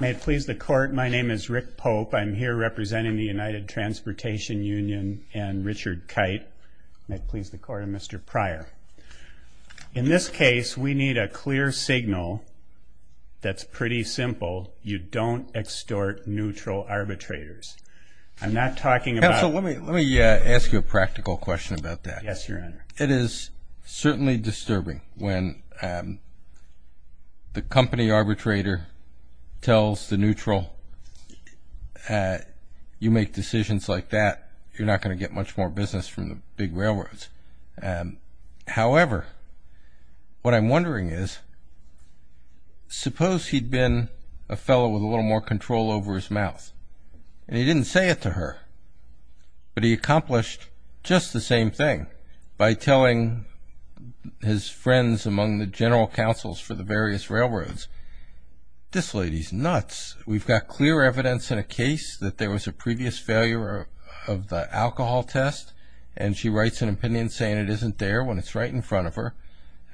May it please the Court, my name is Rick Pope. I'm here representing the United Transportation Union and Richard Kite. May it please the Court, I'm Mr. Pryor. In this case, we need a clear signal that's pretty simple. You don't extort neutral arbitrators. I'm not talking about... Counsel, let me ask you a practical question about that. Yes, Your Honor. It is certainly disturbing when the company arbitrator tells the neutral, you make decisions like that, you're not going to get much more business from the big railroads. However, what I'm wondering is, suppose he'd been a fellow with a little more control over his his friends among the general counsels for the various railroads. This lady's nuts. We've got clear evidence in a case that there was a previous failure of the alcohol test and she writes an opinion saying it isn't there when it's right in front of her.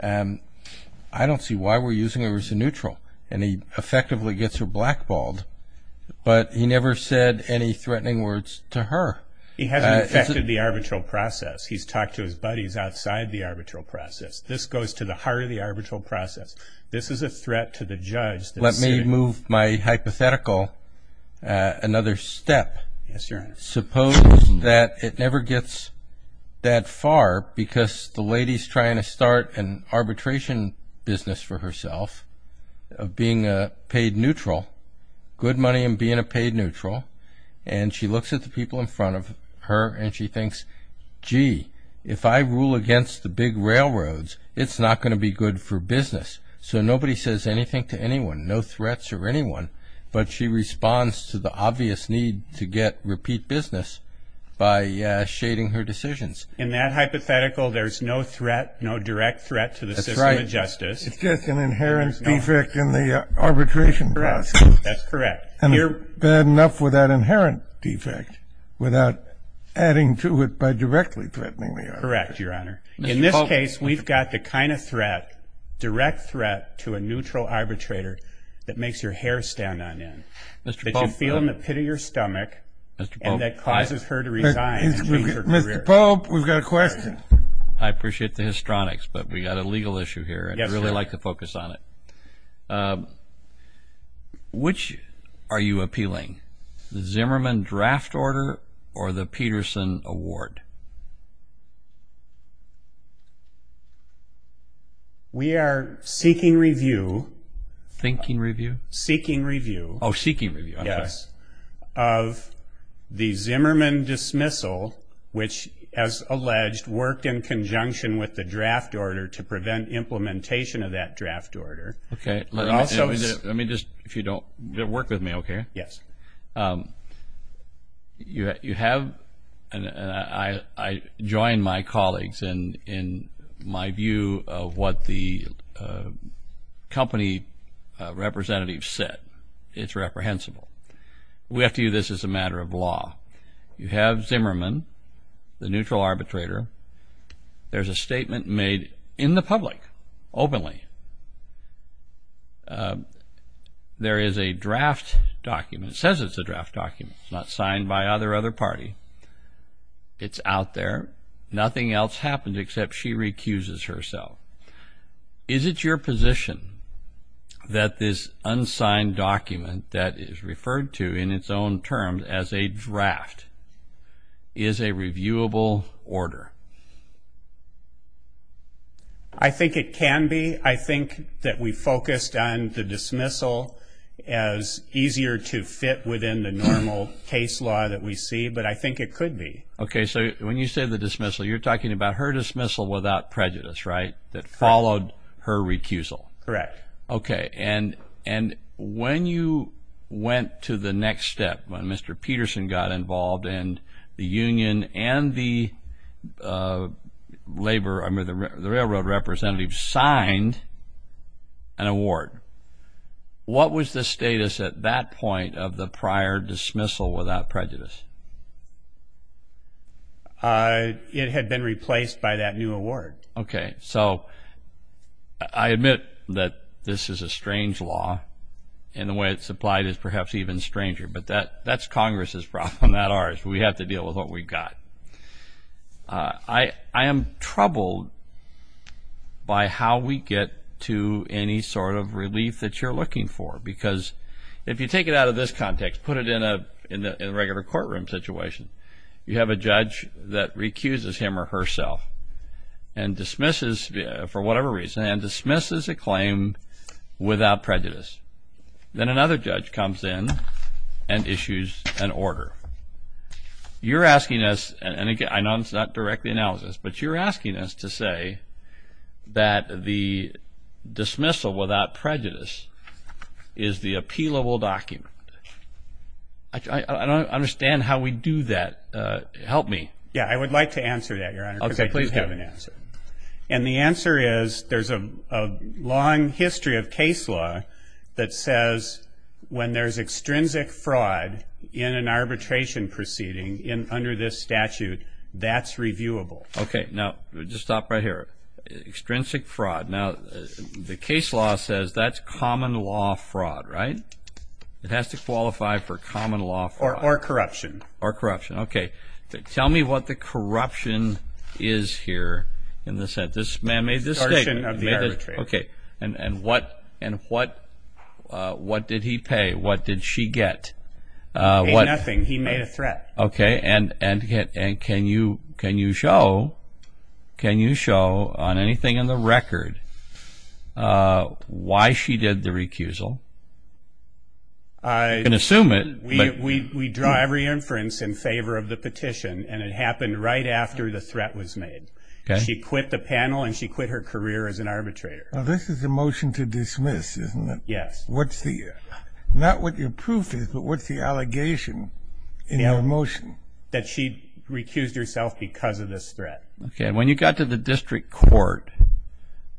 I don't see why we're using her as a neutral. And he effectively gets her blackballed, but he never said any threatening words to her. He hasn't affected the arbitral process. He's talked to his buddies outside the arbitral process. This goes to the heart of the arbitral process. This is a threat to the judge. Let me move my hypothetical another step. Yes, Your Honor. Suppose that it never gets that far because the lady's trying to start an arbitration business for herself of being a paid neutral, good money and being a paid neutral. And she looks at the people in front of her and she If I rule against the big railroads, it's not going to be good for business. So nobody says anything to anyone, no threats or anyone. But she responds to the obvious need to get repeat business by shading her decisions. In that hypothetical, there's no threat, no direct threat to the system of justice. It's just an inherent defect in the arbitration process. That's correct. And bad enough with that inherent defect without adding to it by directly threatening the arbitrator. Correct, Your Honor. In this case, we've got the kind of threat, direct threat to a neutral arbitrator that makes your hair stand on end. That you feel in the pit of your stomach and that causes her to resign and change her career. Mr. Pope, we've got a question. I appreciate the histronics, but we've got a legal issue here. I'd really like to focus on it. Which are you appealing? The Zimmerman draft order or the Peterson award? We are seeking review. Thinking review? Seeking review. Oh, seeking review. Yes. Of the Zimmerman dismissal, which, as alleged, worked in conjunction with the draft order to prevent implementation of that draft order. Okay. Let me just, if you don't, work with me, okay? Yes. You have, and I join my colleagues in my view of what the company representative said. It's reprehensible. We have to do this as a matter of law. You have Zimmerman, the neutral arbitrator. There's a statement made in the public, openly. There's a draft document. It says it's a draft document. It's not signed by either other party. It's out there. Nothing else happened except she recuses herself. Is it your position that this unsigned document that is referred to in its own terms as a draft is a reviewable order? I think it can be. I think that we focused on the dismissal and the dismissal as easier to fit within the normal case law that we see, but I think it could be. Okay. When you say the dismissal, you're talking about her dismissal without prejudice, right? That followed her recusal. Correct. Okay. When you went to the next step, when Mr. Peterson got involved and the union and the railroad representative signed an award, what was the status at that point of the prior dismissal without prejudice? It had been replaced by that new award. Okay. So I admit that this is a strange law, and the way it's applied is perhaps even stranger, but that's Congress's problem, not ours. We have to deal with what we've got. I am troubled by how we get to any sort of relief that you're looking for, because if you take it out of this context, put it in a regular courtroom situation, you have a judge that recuses him or herself and dismisses for whatever reason and dismisses a claim without prejudice. Then another judge comes in and issues an order. You're asking us, and again, I know it's not directly analysis, but you're asking us to say that the dismissal without prejudice is the appealable document. I don't understand how we do that. Help me. Yeah, I would like to answer that, Your Honor, because I just have an answer. And the answer is there's a long history of case law that says when there's extrinsic fraud in an arbitration proceeding under this statute, that's reviewable. Okay. Now, just stop right here. Extrinsic law says that's common law fraud, right? It has to qualify for common law fraud. Or corruption. Or corruption. Okay. Tell me what the corruption is here in this sentence. This man made this statement. Extortion of the arbitration. And what did he pay? What did she get? He paid nothing. He made a threat. Okay. And can you show on anything in the record why she did the recusal? I can assume it, but... We draw every inference in favor of the petition, and it happened right after the threat was made. She quit the panel, and she quit her career as an arbitrator. Now, this is a motion to dismiss, isn't it? Yes. What's the... Not what your proof is, but what's the allegation in your motion? That she recused herself because of this threat. Okay. And when you got to the district court,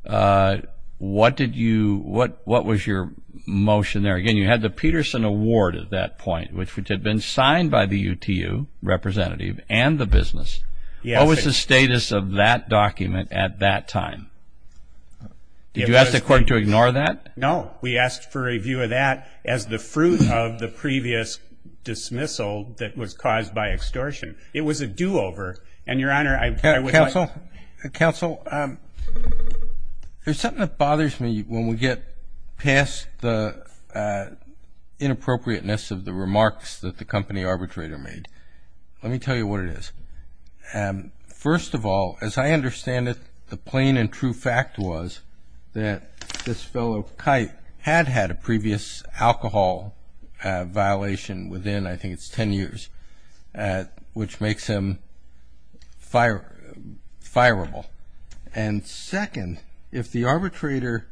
what did you... What was your motion there? Again, you had the Peterson Award at that point, which had been signed by the UTU representative and the business. Yes. What was the status of that document at that time? Did you ask the court to ignore that? No. We asked for a review of that as the fruit of the previous dismissal that was caused by extortion. It was a do-over. And, Your Honor, I would like... Counsel, there's something that bothers me when we get past the inappropriateness of the remarks that the company arbitrator made. Let me tell you what it is. First of all, as I understand it, the plain and true fact was that this fellow, Kite, had had a previous alcohol violation within, I think, it's 10 years, which makes him fireable. And second, if the arbitrator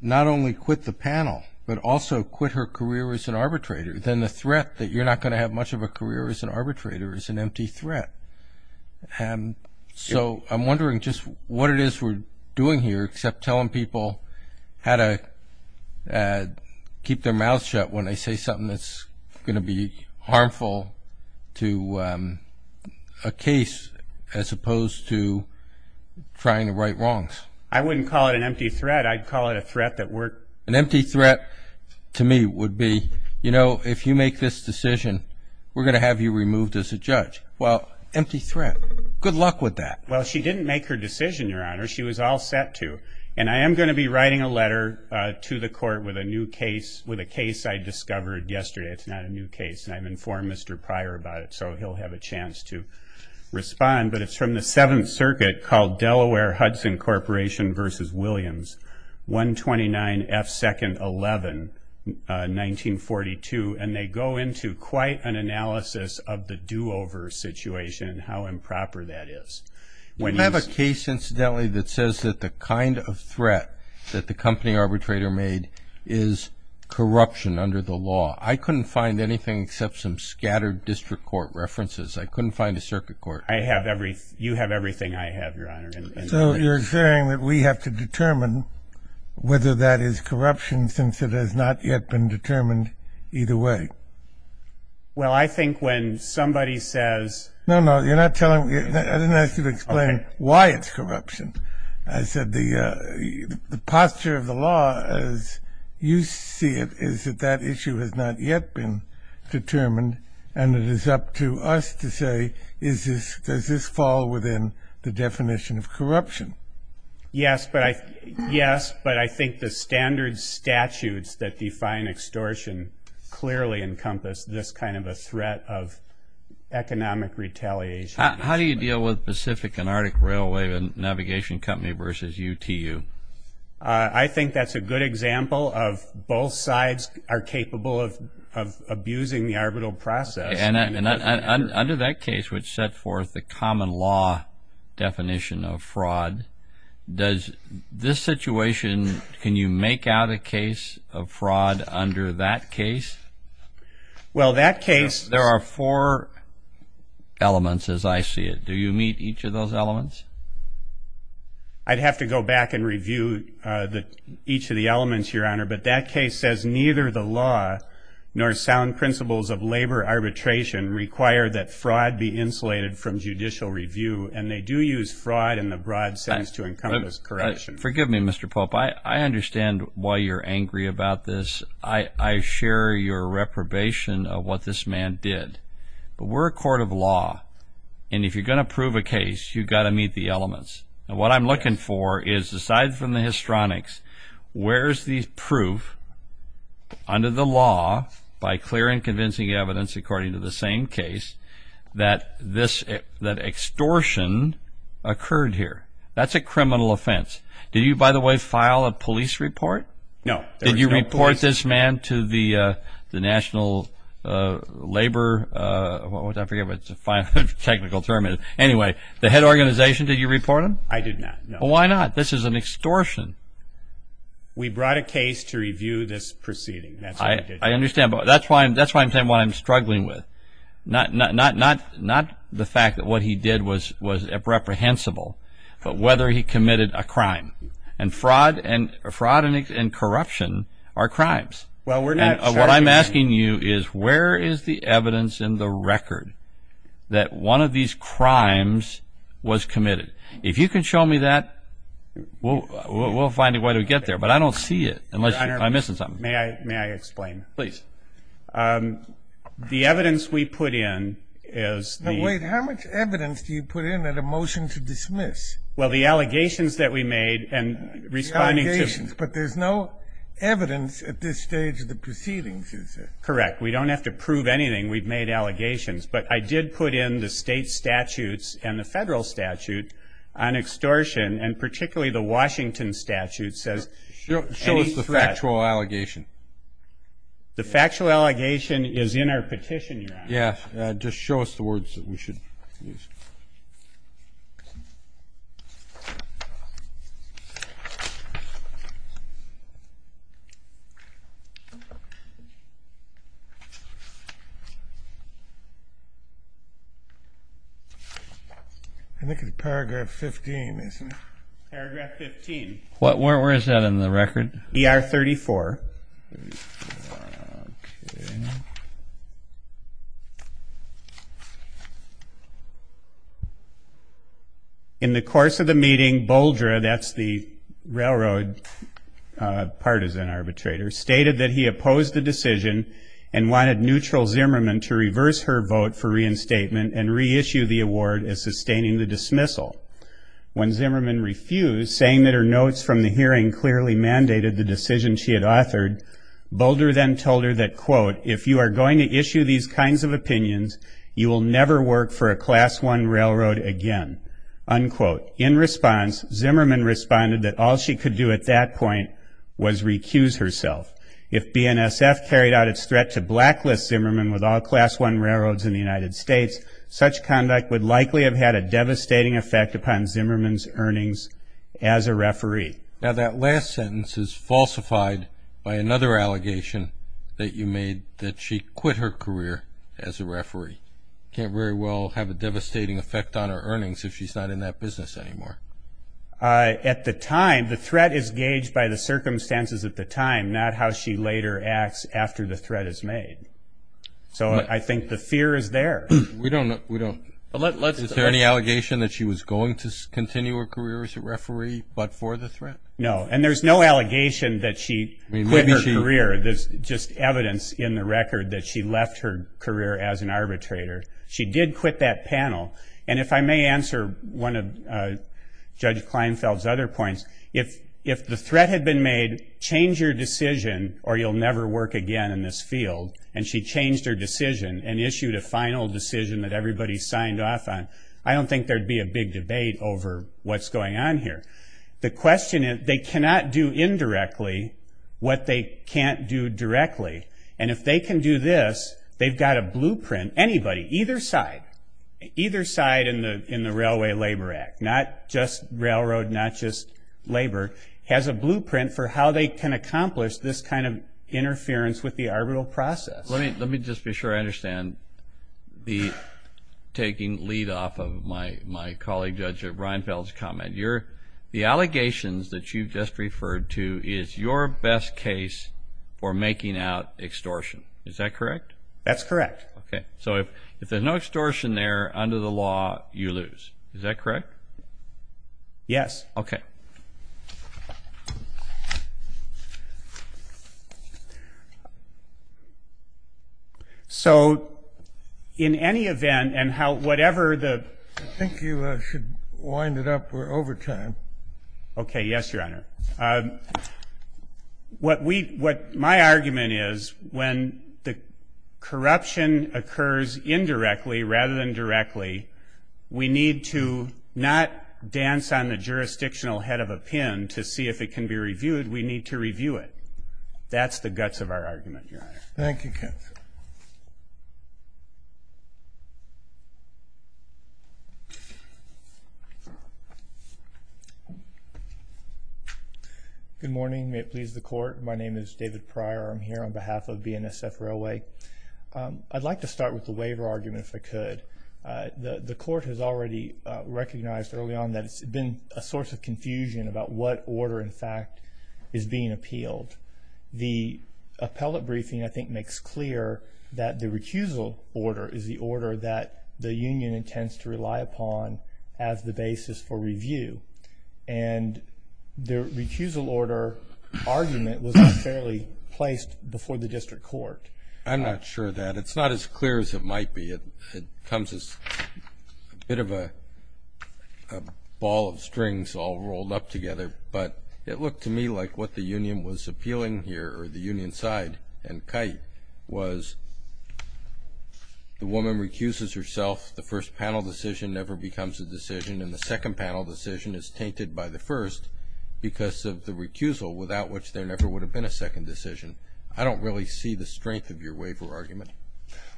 not only quit the panel, but also quit her career as an arbitrator, then the threat that you're not going to have much of a career as an arbitrator is an empty threat. So I'm wondering just what it is we're doing here except telling people how to keep their mouths shut when they say something that's going to be harmful to a case as opposed to trying to right wrongs. I wouldn't call it an empty threat. I'd call it a threat that we're... An empty threat to me would be, you know, if you make this decision, we're going to have you removed as a judge. Well, empty threat. Good luck with that. Well, she didn't make her decision, Your Honor. She was all set to. And I am going to be writing a letter to the court with a new case, with a case I discovered yesterday. It's not a new case, and I've informed Mr. Pryor about it, so he'll have a chance to respond. But it's from the Seventh Circuit called Delaware-Hudson Corporation v. Williams, 129 F. 2nd. 11, 1942. And they go into quite an analysis of the do-over situation and how improper that is. You have a case, incidentally, that says that the kind of threat that the company arbitrator made is corruption under the law. I couldn't find anything except some scattered district court references. I couldn't find a circuit court. You have everything I have, Your Honor. So you're saying that we have to determine whether that is corruption since it has not yet been determined either way? Well, I think when somebody says... No, no. You're not telling me... I didn't ask you to explain why it's corruption. I said the posture of the law as you see it is that that issue has not yet been determined, and it is up to us to say, does this fall within the definition of corruption? Yes, but I think the standard statutes that define extortion clearly encompass this kind of a threat of economic retaliation. How do you deal with Pacific and Arctic Railway Navigation Company v. UTU? I think that's a good example of both sides are capable of abusing the arbitral process. And under that case, which set forth the common law definition of fraud, does this situation, can you make out a case of fraud under that case? Well, that case... There are four elements as I see it. Do you meet each of those elements? I'd have to go back and review each of the elements, Your Honor, but that case says neither the law nor sound principles of labor arbitration require that fraud be insulated from judicial review, and they do use fraud in the broad sense to encompass corruption. Forgive me, Mr. Pope. I understand why you're angry about this. I share your reprobation of what this man did. But we're a court of law, and if you're going to prove a case, you've got to meet the elements. And what I'm looking for is, aside from the histronics, where's the proof under the law, by clear and convincing evidence according to the same case, that extortion occurred here? That's a criminal offense. Did you, by the way, file a police report? No. Did you report this man to the National Labor... I forget what the technical term is. Anyway, the head organization, did you report him? I did not, no. Why not? This is an extortion. We brought a case to review this proceeding. That's what we did. I understand, but that's why I'm saying what I'm struggling with. Not the fact that what he did was reprehensible, but whether he committed a crime. And fraud and corruption are crimes. Well, we're not... What I'm asking you is, where is the evidence in the record that one of these crimes was committed? We'll find a way to get there, but I don't see it, unless I'm missing something. May I explain? Please. The evidence we put in is the... No, wait. How much evidence do you put in at a motion to dismiss? Well, the allegations that we made and responding to... The allegations, but there's no evidence at this stage of the proceedings, is there? Correct. We don't have to prove anything. We've made allegations. But I did put in the record that particularly the Washington statute says... Show us the factual allegation. The factual allegation is in our petition, Your Honor. Yeah. Just show us the words that we should use. I think it's paragraph 15, isn't it? Paragraph 15. Where is that in the record? ER 34. In the course of the meeting, Boldra, that's the railroad partisan arbitrator, stated that he opposed the decision and wanted Neutral Zimmerman to reverse her vote for reinstatement and reissue the award as sustaining the dismissal. When Zimmerman refused, saying that her notes from the hearing clearly mandated the decision she had authored, Boldra then told her that, quote, if you are going to issue these kinds of opinions, you will never work for a Class 1 railroad again, unquote. In response, Zimmerman responded that all she could do at that point was recuse herself. If BNSF carried out its threat to blacklist Zimmerman with all Class 1 railroads in the United States, such conduct would likely have had a devastating effect upon Zimmerman's earnings as a referee. Now, that last sentence is falsified by another allegation that you made, that she quit her career as a referee. Can't very well have a devastating effect on her earnings if she's not in that business anymore. At the time, the threat is gauged by the circumstances at the time, not how she later acts after the threat is made. So I think the fear is there. We don't know, we don't. Is there any allegation that she was going to continue her career as a referee but for the threat? No. And there's no allegation that she quit her career. There's just evidence in the record that she left her career as an arbitrator. She did quit that panel. And if I may answer one of Judge Kleinfeld's other points, if the threat had been made, change your decision or you'll never work again in this field, and she changed her decision and issued a final decision that everybody signed off on, I don't think there'd be a big debate over what's going on here. The question is, they cannot do indirectly what they can't do directly. And if they can do this, they've got a blueprint, anybody, either side, either side in the Railway Labor Act, not just railroad, not just labor, has a blueprint for how they can accomplish this kind of interference with the arbitral process. Let me just be sure I understand, taking lead off of my colleague, Judge Reinfeld's comment. The allegations that you just referred to is your best case for making out extortion. Is that correct? That's correct. So if there's no extortion there under the law, you lose. Is that correct? Yes. Okay. So, in any event, and how, whatever the... I think you should wind it up, we're over time. Okay, yes, Your Honor. What we, what my argument is, when the corruption occurs indirectly rather than directly, we need to not dance on the jurisdictional head of a pin to see if it can be reviewed. We need to review it. That's the guts of our argument, Your Honor. Thank you, Ken. Good morning. May it please the Court. My name is David Pryor. I'm here on behalf of The Court has already recognized early on that it's been a source of confusion about what order, in fact, is being appealed. The appellate briefing, I think, makes clear that the recusal order is the order that the union intends to rely upon as the basis for review. And the recusal order argument was unfairly placed before the district court. I'm not sure of that. It's not as clear as it might be. It comes as a bit of a ball of strings all rolled up together. But it looked to me like what the union was appealing here, or the union side and kite, was the woman recuses herself, the first panel decision never becomes a decision, and the second panel decision is tainted by the first because of the recusal, without which there never would have been a second decision. I don't really see the strength of your waiver argument.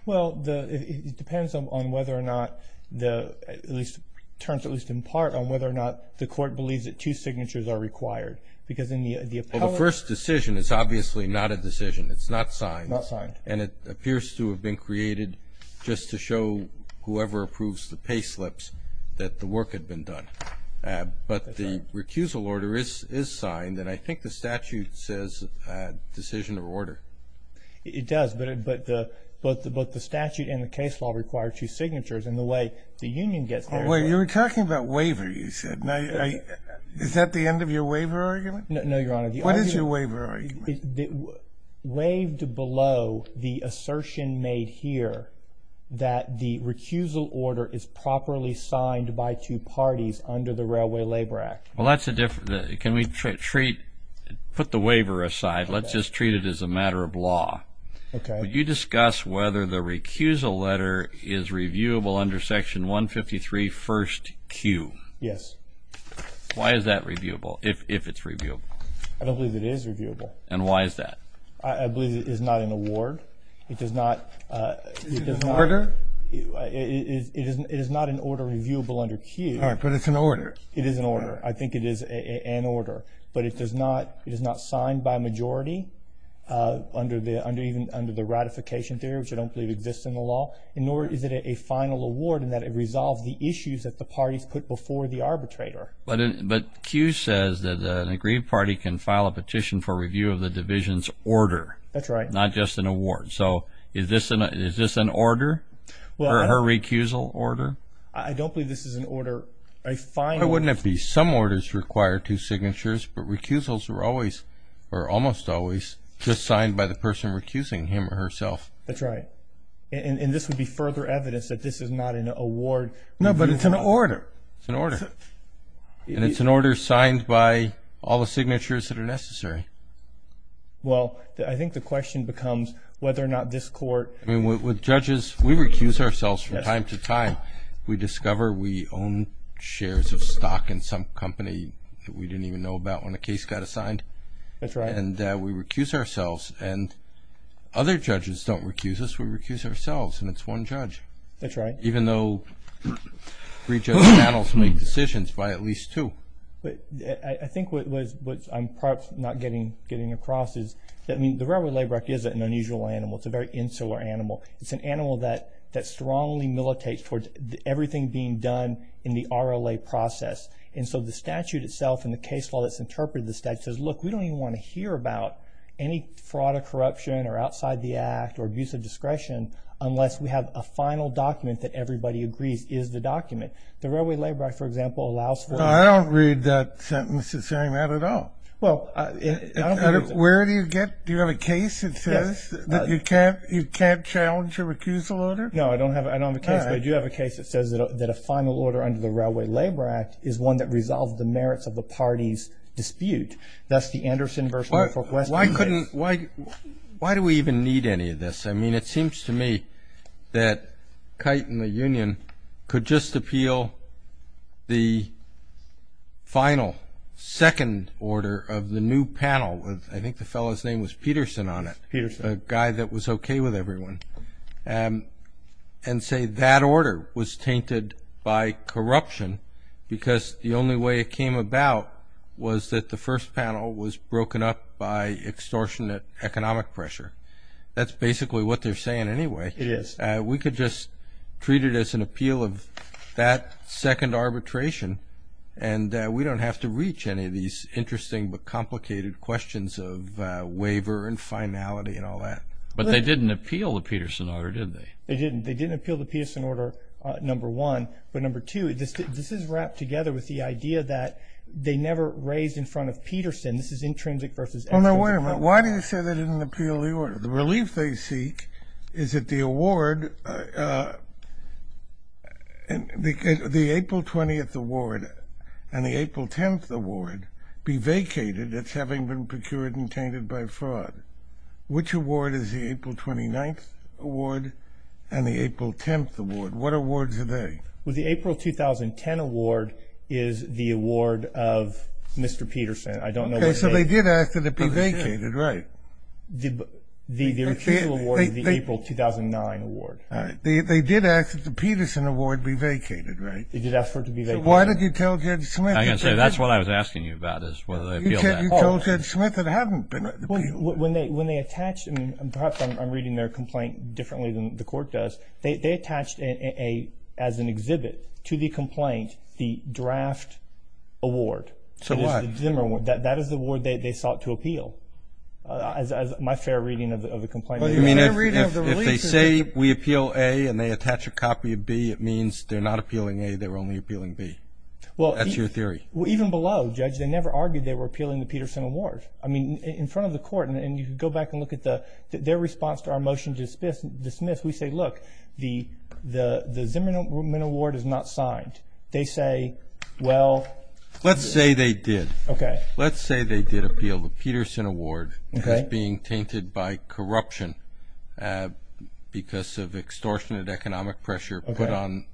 Well, it depends on whether or not the, at least, turns at least in part on whether or not the Court believes that two signatures are required. Because in the appellate... Well, the first decision is obviously not a decision. It's not signed. Not signed. And it appears to have been created just to show whoever approves the pay slips that the work had been done. But the recusal order is signed, and I think the statute says decision or order. It does, but the statute and the case law require two signatures, and the way the union gets there... Well, you were talking about waiver, you said. Is that the end of your waiver argument? No, Your Honor. What is your waiver argument? Waived below the assertion made here that the recusal order is properly signed by two parties under the Railway Labor Act. Well, that's a different... Can we treat... Put the waiver aside. Let's just treat it as a matter of law. Okay. Would you discuss whether the recusal letter is reviewable under Section 153, First Q? Yes. Why is that reviewable, if it's reviewable? I don't believe it is reviewable. And why is that? I believe it is not an award. It does not... Is it an order? It is not an order reviewable under Q. All right, but it's an order. It is an order. I think it is an order. But it is not signed by a majority, even under the ratification theory, which I don't believe exists in the law, nor is it a final award in that it resolves the issues that the parties put before the arbitrator. But Q says that an agreed party can file a petition for review of the division's order. That's right. Not just an award. So is this an order? Her recusal order? I don't believe this is an order. Why wouldn't it be? Some orders require two signatures, but recusals are always, or almost always, just signed by the person recusing him or herself. That's right. And this would be further evidence that this is not an award. No, but it's an order. It's an order. And it's an order signed by all the signatures that are necessary. Well, I think the question becomes whether or not this court... I mean, with judges, we recuse ourselves from time to time. We discover we own shares of stock in some company that we didn't even know about when a case got assigned. That's right. And we recuse ourselves, and other judges don't recuse us. We recuse ourselves, and it's one judge. That's right. Even though three judge panels make decisions by at least two. I think what I'm perhaps not getting across is, I mean, the railroad labor act isn't an unusual animal. It's a very insular animal. It's an animal that strongly militates towards everything being done in the RLA process. And so the statute itself and the case law that's interpreted in the statute says, look, we don't even want to hear about any fraud or corruption or outside the act or abuse of discretion unless we have a final document that everybody agrees is the document. The railway labor act, for example, allows for... No, I don't read that sentence as saying that at all. Well, I don't... Where do you get... Do you have a case that says that you can't challenge your recusal order? No, I don't have a case, but I do have a case that says that a final order under the railway labor act is one that resolves the merits of the party's dispute. That's the Anderson v. Fort West case. Why couldn't... Why do we even need any of this? I mean, it seems to me that Kite and the union could just appeal the final second order of the new panel. I think the fellow's name was Peterson on it. Peterson. A guy that was okay with everyone, and say that order was tainted by corruption because the only way it came about was that the first panel was broken up by extortionate economic pressure. That's basically what they're saying anyway. It is. We could just treat it as an appeal of that second arbitration, and we don't have to reach any of these interesting but complicated questions of waiver and finality and all that. But they didn't appeal the Peterson order, did they? They didn't. They didn't appeal the Peterson order, number one. But number two, this is wrapped together with the idea that they never raised in front of Peterson. This is intrinsic versus extrinsic. Well, now, wait a minute. Why do you say they didn't appeal the order? The relief they seek is that the award, the April 20th award and the April 10th award, be vacated. It's having been procured and tainted by fraud. Which award is the April 29th award and the April 10th award? What awards are they? Well, the April 2010 award is the award of Mr. Peterson. Okay, so they did ask that it be vacated, right? The refusal award is the April 2009 award. All right. They did ask that the Peterson award be vacated, right? They did ask for it to be vacated. So why did you tell Judge Smith? I was going to say that's what I was asking you about is whether they appealed that. You told Judge Smith it hadn't been appealed. When they attached, and perhaps I'm reading their complaint differently than the court does, they attached as an exhibit to the complaint the draft award. So what? That is the award they sought to appeal, my fair reading of the complaint. You mean if they say we appeal A and they attach a copy of B, it means they're not appealing A, they're only appealing B. That's your theory. Well, even below, Judge, they never argued they were appealing the Peterson award. I mean, in front of the court, and you can go back and look at their response to our motion to dismiss, we say, look, the Zimmerman award is not signed. They say, well. Let's say they did. Let's say they did appeal the Peterson award as being tainted by corruption because of extortionate economic pressure put on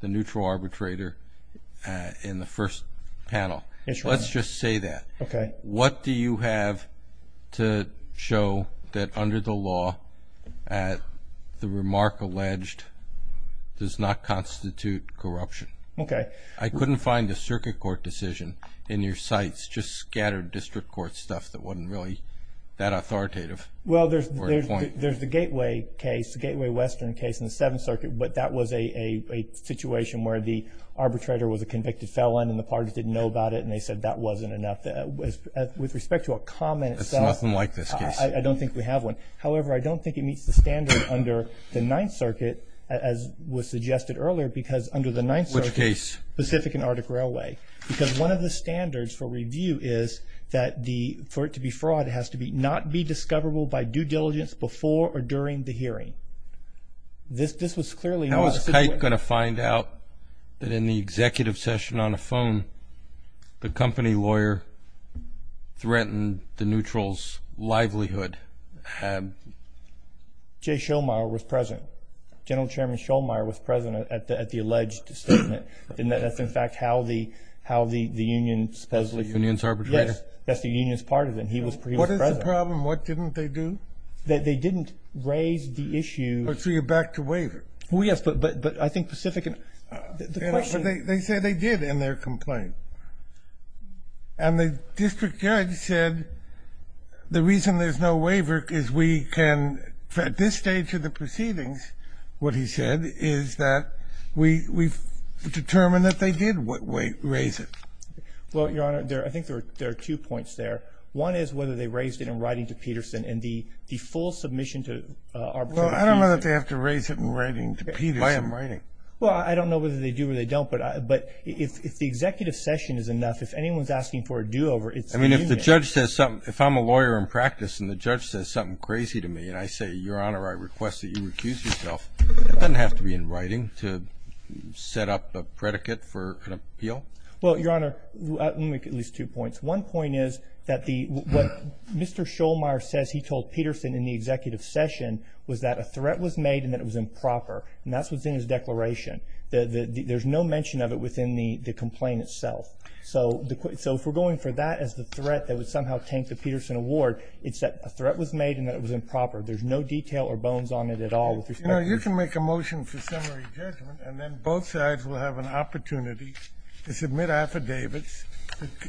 the neutral arbitrator in the first panel. Let's just say that. Okay. What do you have to show that under the law the remark alleged does not constitute corruption? Okay. I couldn't find a circuit court decision in your sites, just scattered district court stuff that wasn't really that authoritative. Well, there's the Gateway case, the Gateway Western case in the Seventh Circuit, but that was a situation where the arbitrator was a convicted felon and the parties didn't know about it and they said that wasn't enough. With respect to a comment itself. There's nothing like this case. I don't think we have one. However, I don't think it meets the standard under the Ninth Circuit, as was suggested earlier, because under the Ninth Circuit. Which case? Pacific and Arctic Railway. Because one of the standards for review is that for it to be fraud, it has to not be discoverable by due diligence before or during the hearing. This was clearly not. Was Haidt going to find out that in the executive session on the phone, the company lawyer threatened the neutral's livelihood? Jay Shulmire was present. General Chairman Shulmire was present at the alleged statement. And that's, in fact, how the union supposedly. Union's arbitrator? Yes, that's the union's part of it. He was present. What is the problem? What didn't they do? They didn't raise the issue. So you're back to waiver. Well, yes, but I think Pacific and the question. They said they did in their complaint. And the district judge said the reason there's no waiver is we can, at this stage of the proceedings, what he said is that we've determined that they did raise it. Well, Your Honor, I think there are two points there. One is whether they raised it in writing to Peterson, and the full submission to arbitrator Peterson. Well, I don't know that they have to raise it in writing to Peterson. Why in writing? Well, I don't know whether they do or they don't. But if the executive session is enough, if anyone's asking for a do-over, it's the union. I mean, if the judge says something, if I'm a lawyer in practice and the judge says something crazy to me and I say, Your Honor, I request that you recuse yourself, it doesn't have to be in writing to set up a predicate for an appeal. Well, Your Honor, let me make at least two points. One point is that what Mr. Shulmire says he told Peterson in the executive session was that a threat was made and that it was improper, and that's within his declaration. There's no mention of it within the complaint itself. So if we're going for that as the threat that would somehow tank the Peterson award, it's that a threat was made and that it was improper. There's no detail or bones on it at all. You know, you can make a motion for summary judgment, and then both sides will have an opportunity to submit affidavits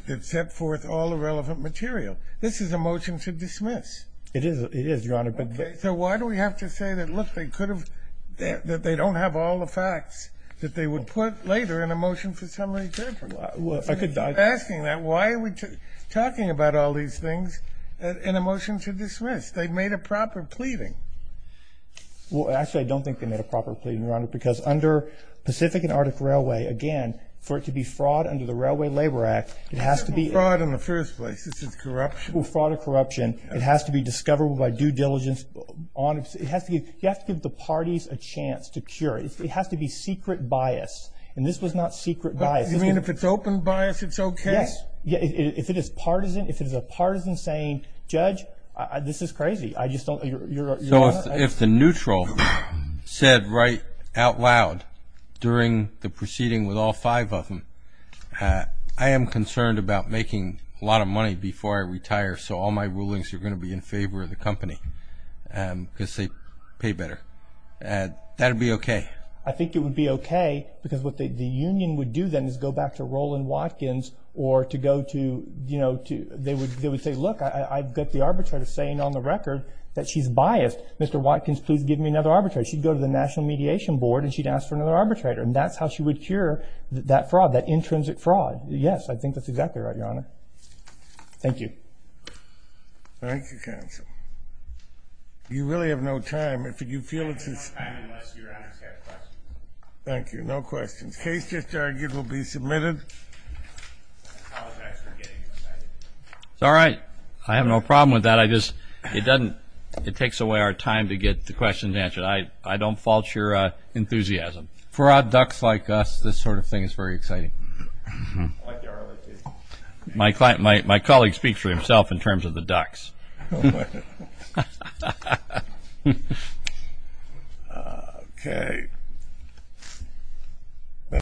that set forth all the relevant material. This is a motion to dismiss. It is, Your Honor. So why do we have to say that, look, they don't have all the facts that they would put later in a motion for summary judgment? If you're asking that, why are we talking about all these things in a motion to dismiss? They made a proper pleading. Well, actually, I don't think they made a proper pleading, Your Honor, because under Pacific and Arctic Railway, again, for it to be fraud under the Railway Labor Act, it has to be ---- Fraud in the first place. This is corruption. Fraud or corruption. It has to be discovered by due diligence. You have to give the parties a chance to cure it. It has to be secret bias, and this was not secret bias. You mean if it's open bias, it's okay? Yes. If it is partisan, if it is a partisan saying, Judge, this is crazy, I just don't ---- So if the neutral said right out loud during the proceeding with all five of them, I am concerned about making a lot of money before I retire, so all my rulings are going to be in favor of the company because they pay better. That would be okay. I think it would be okay because what the union would do then is go back to Roland Watkins or to go to, you know, they would say, look, I've got the arbitrator saying on the record that she's biased. Mr. Watkins, please give me another arbitrator. She'd go to the National Mediation Board and she'd ask for another arbitrator, and that's how she would cure that fraud, that intrinsic fraud. Yes, I think that's exactly right, Your Honor. Thank you. Thank you, counsel. You really have no time. You feel it's just ---- I have no time unless Your Honor has questions. Thank you. No questions. Case just argued will be submitted. I apologize for getting excited. It's all right. I have no problem with that. I just ---- it doesn't ---- it takes away our time to get the questions answered. I don't fault your enthusiasm. For odd ducks like us, this sort of thing is very exciting. I like the Arlington. My colleague speaks for himself in terms of the ducks. Okay.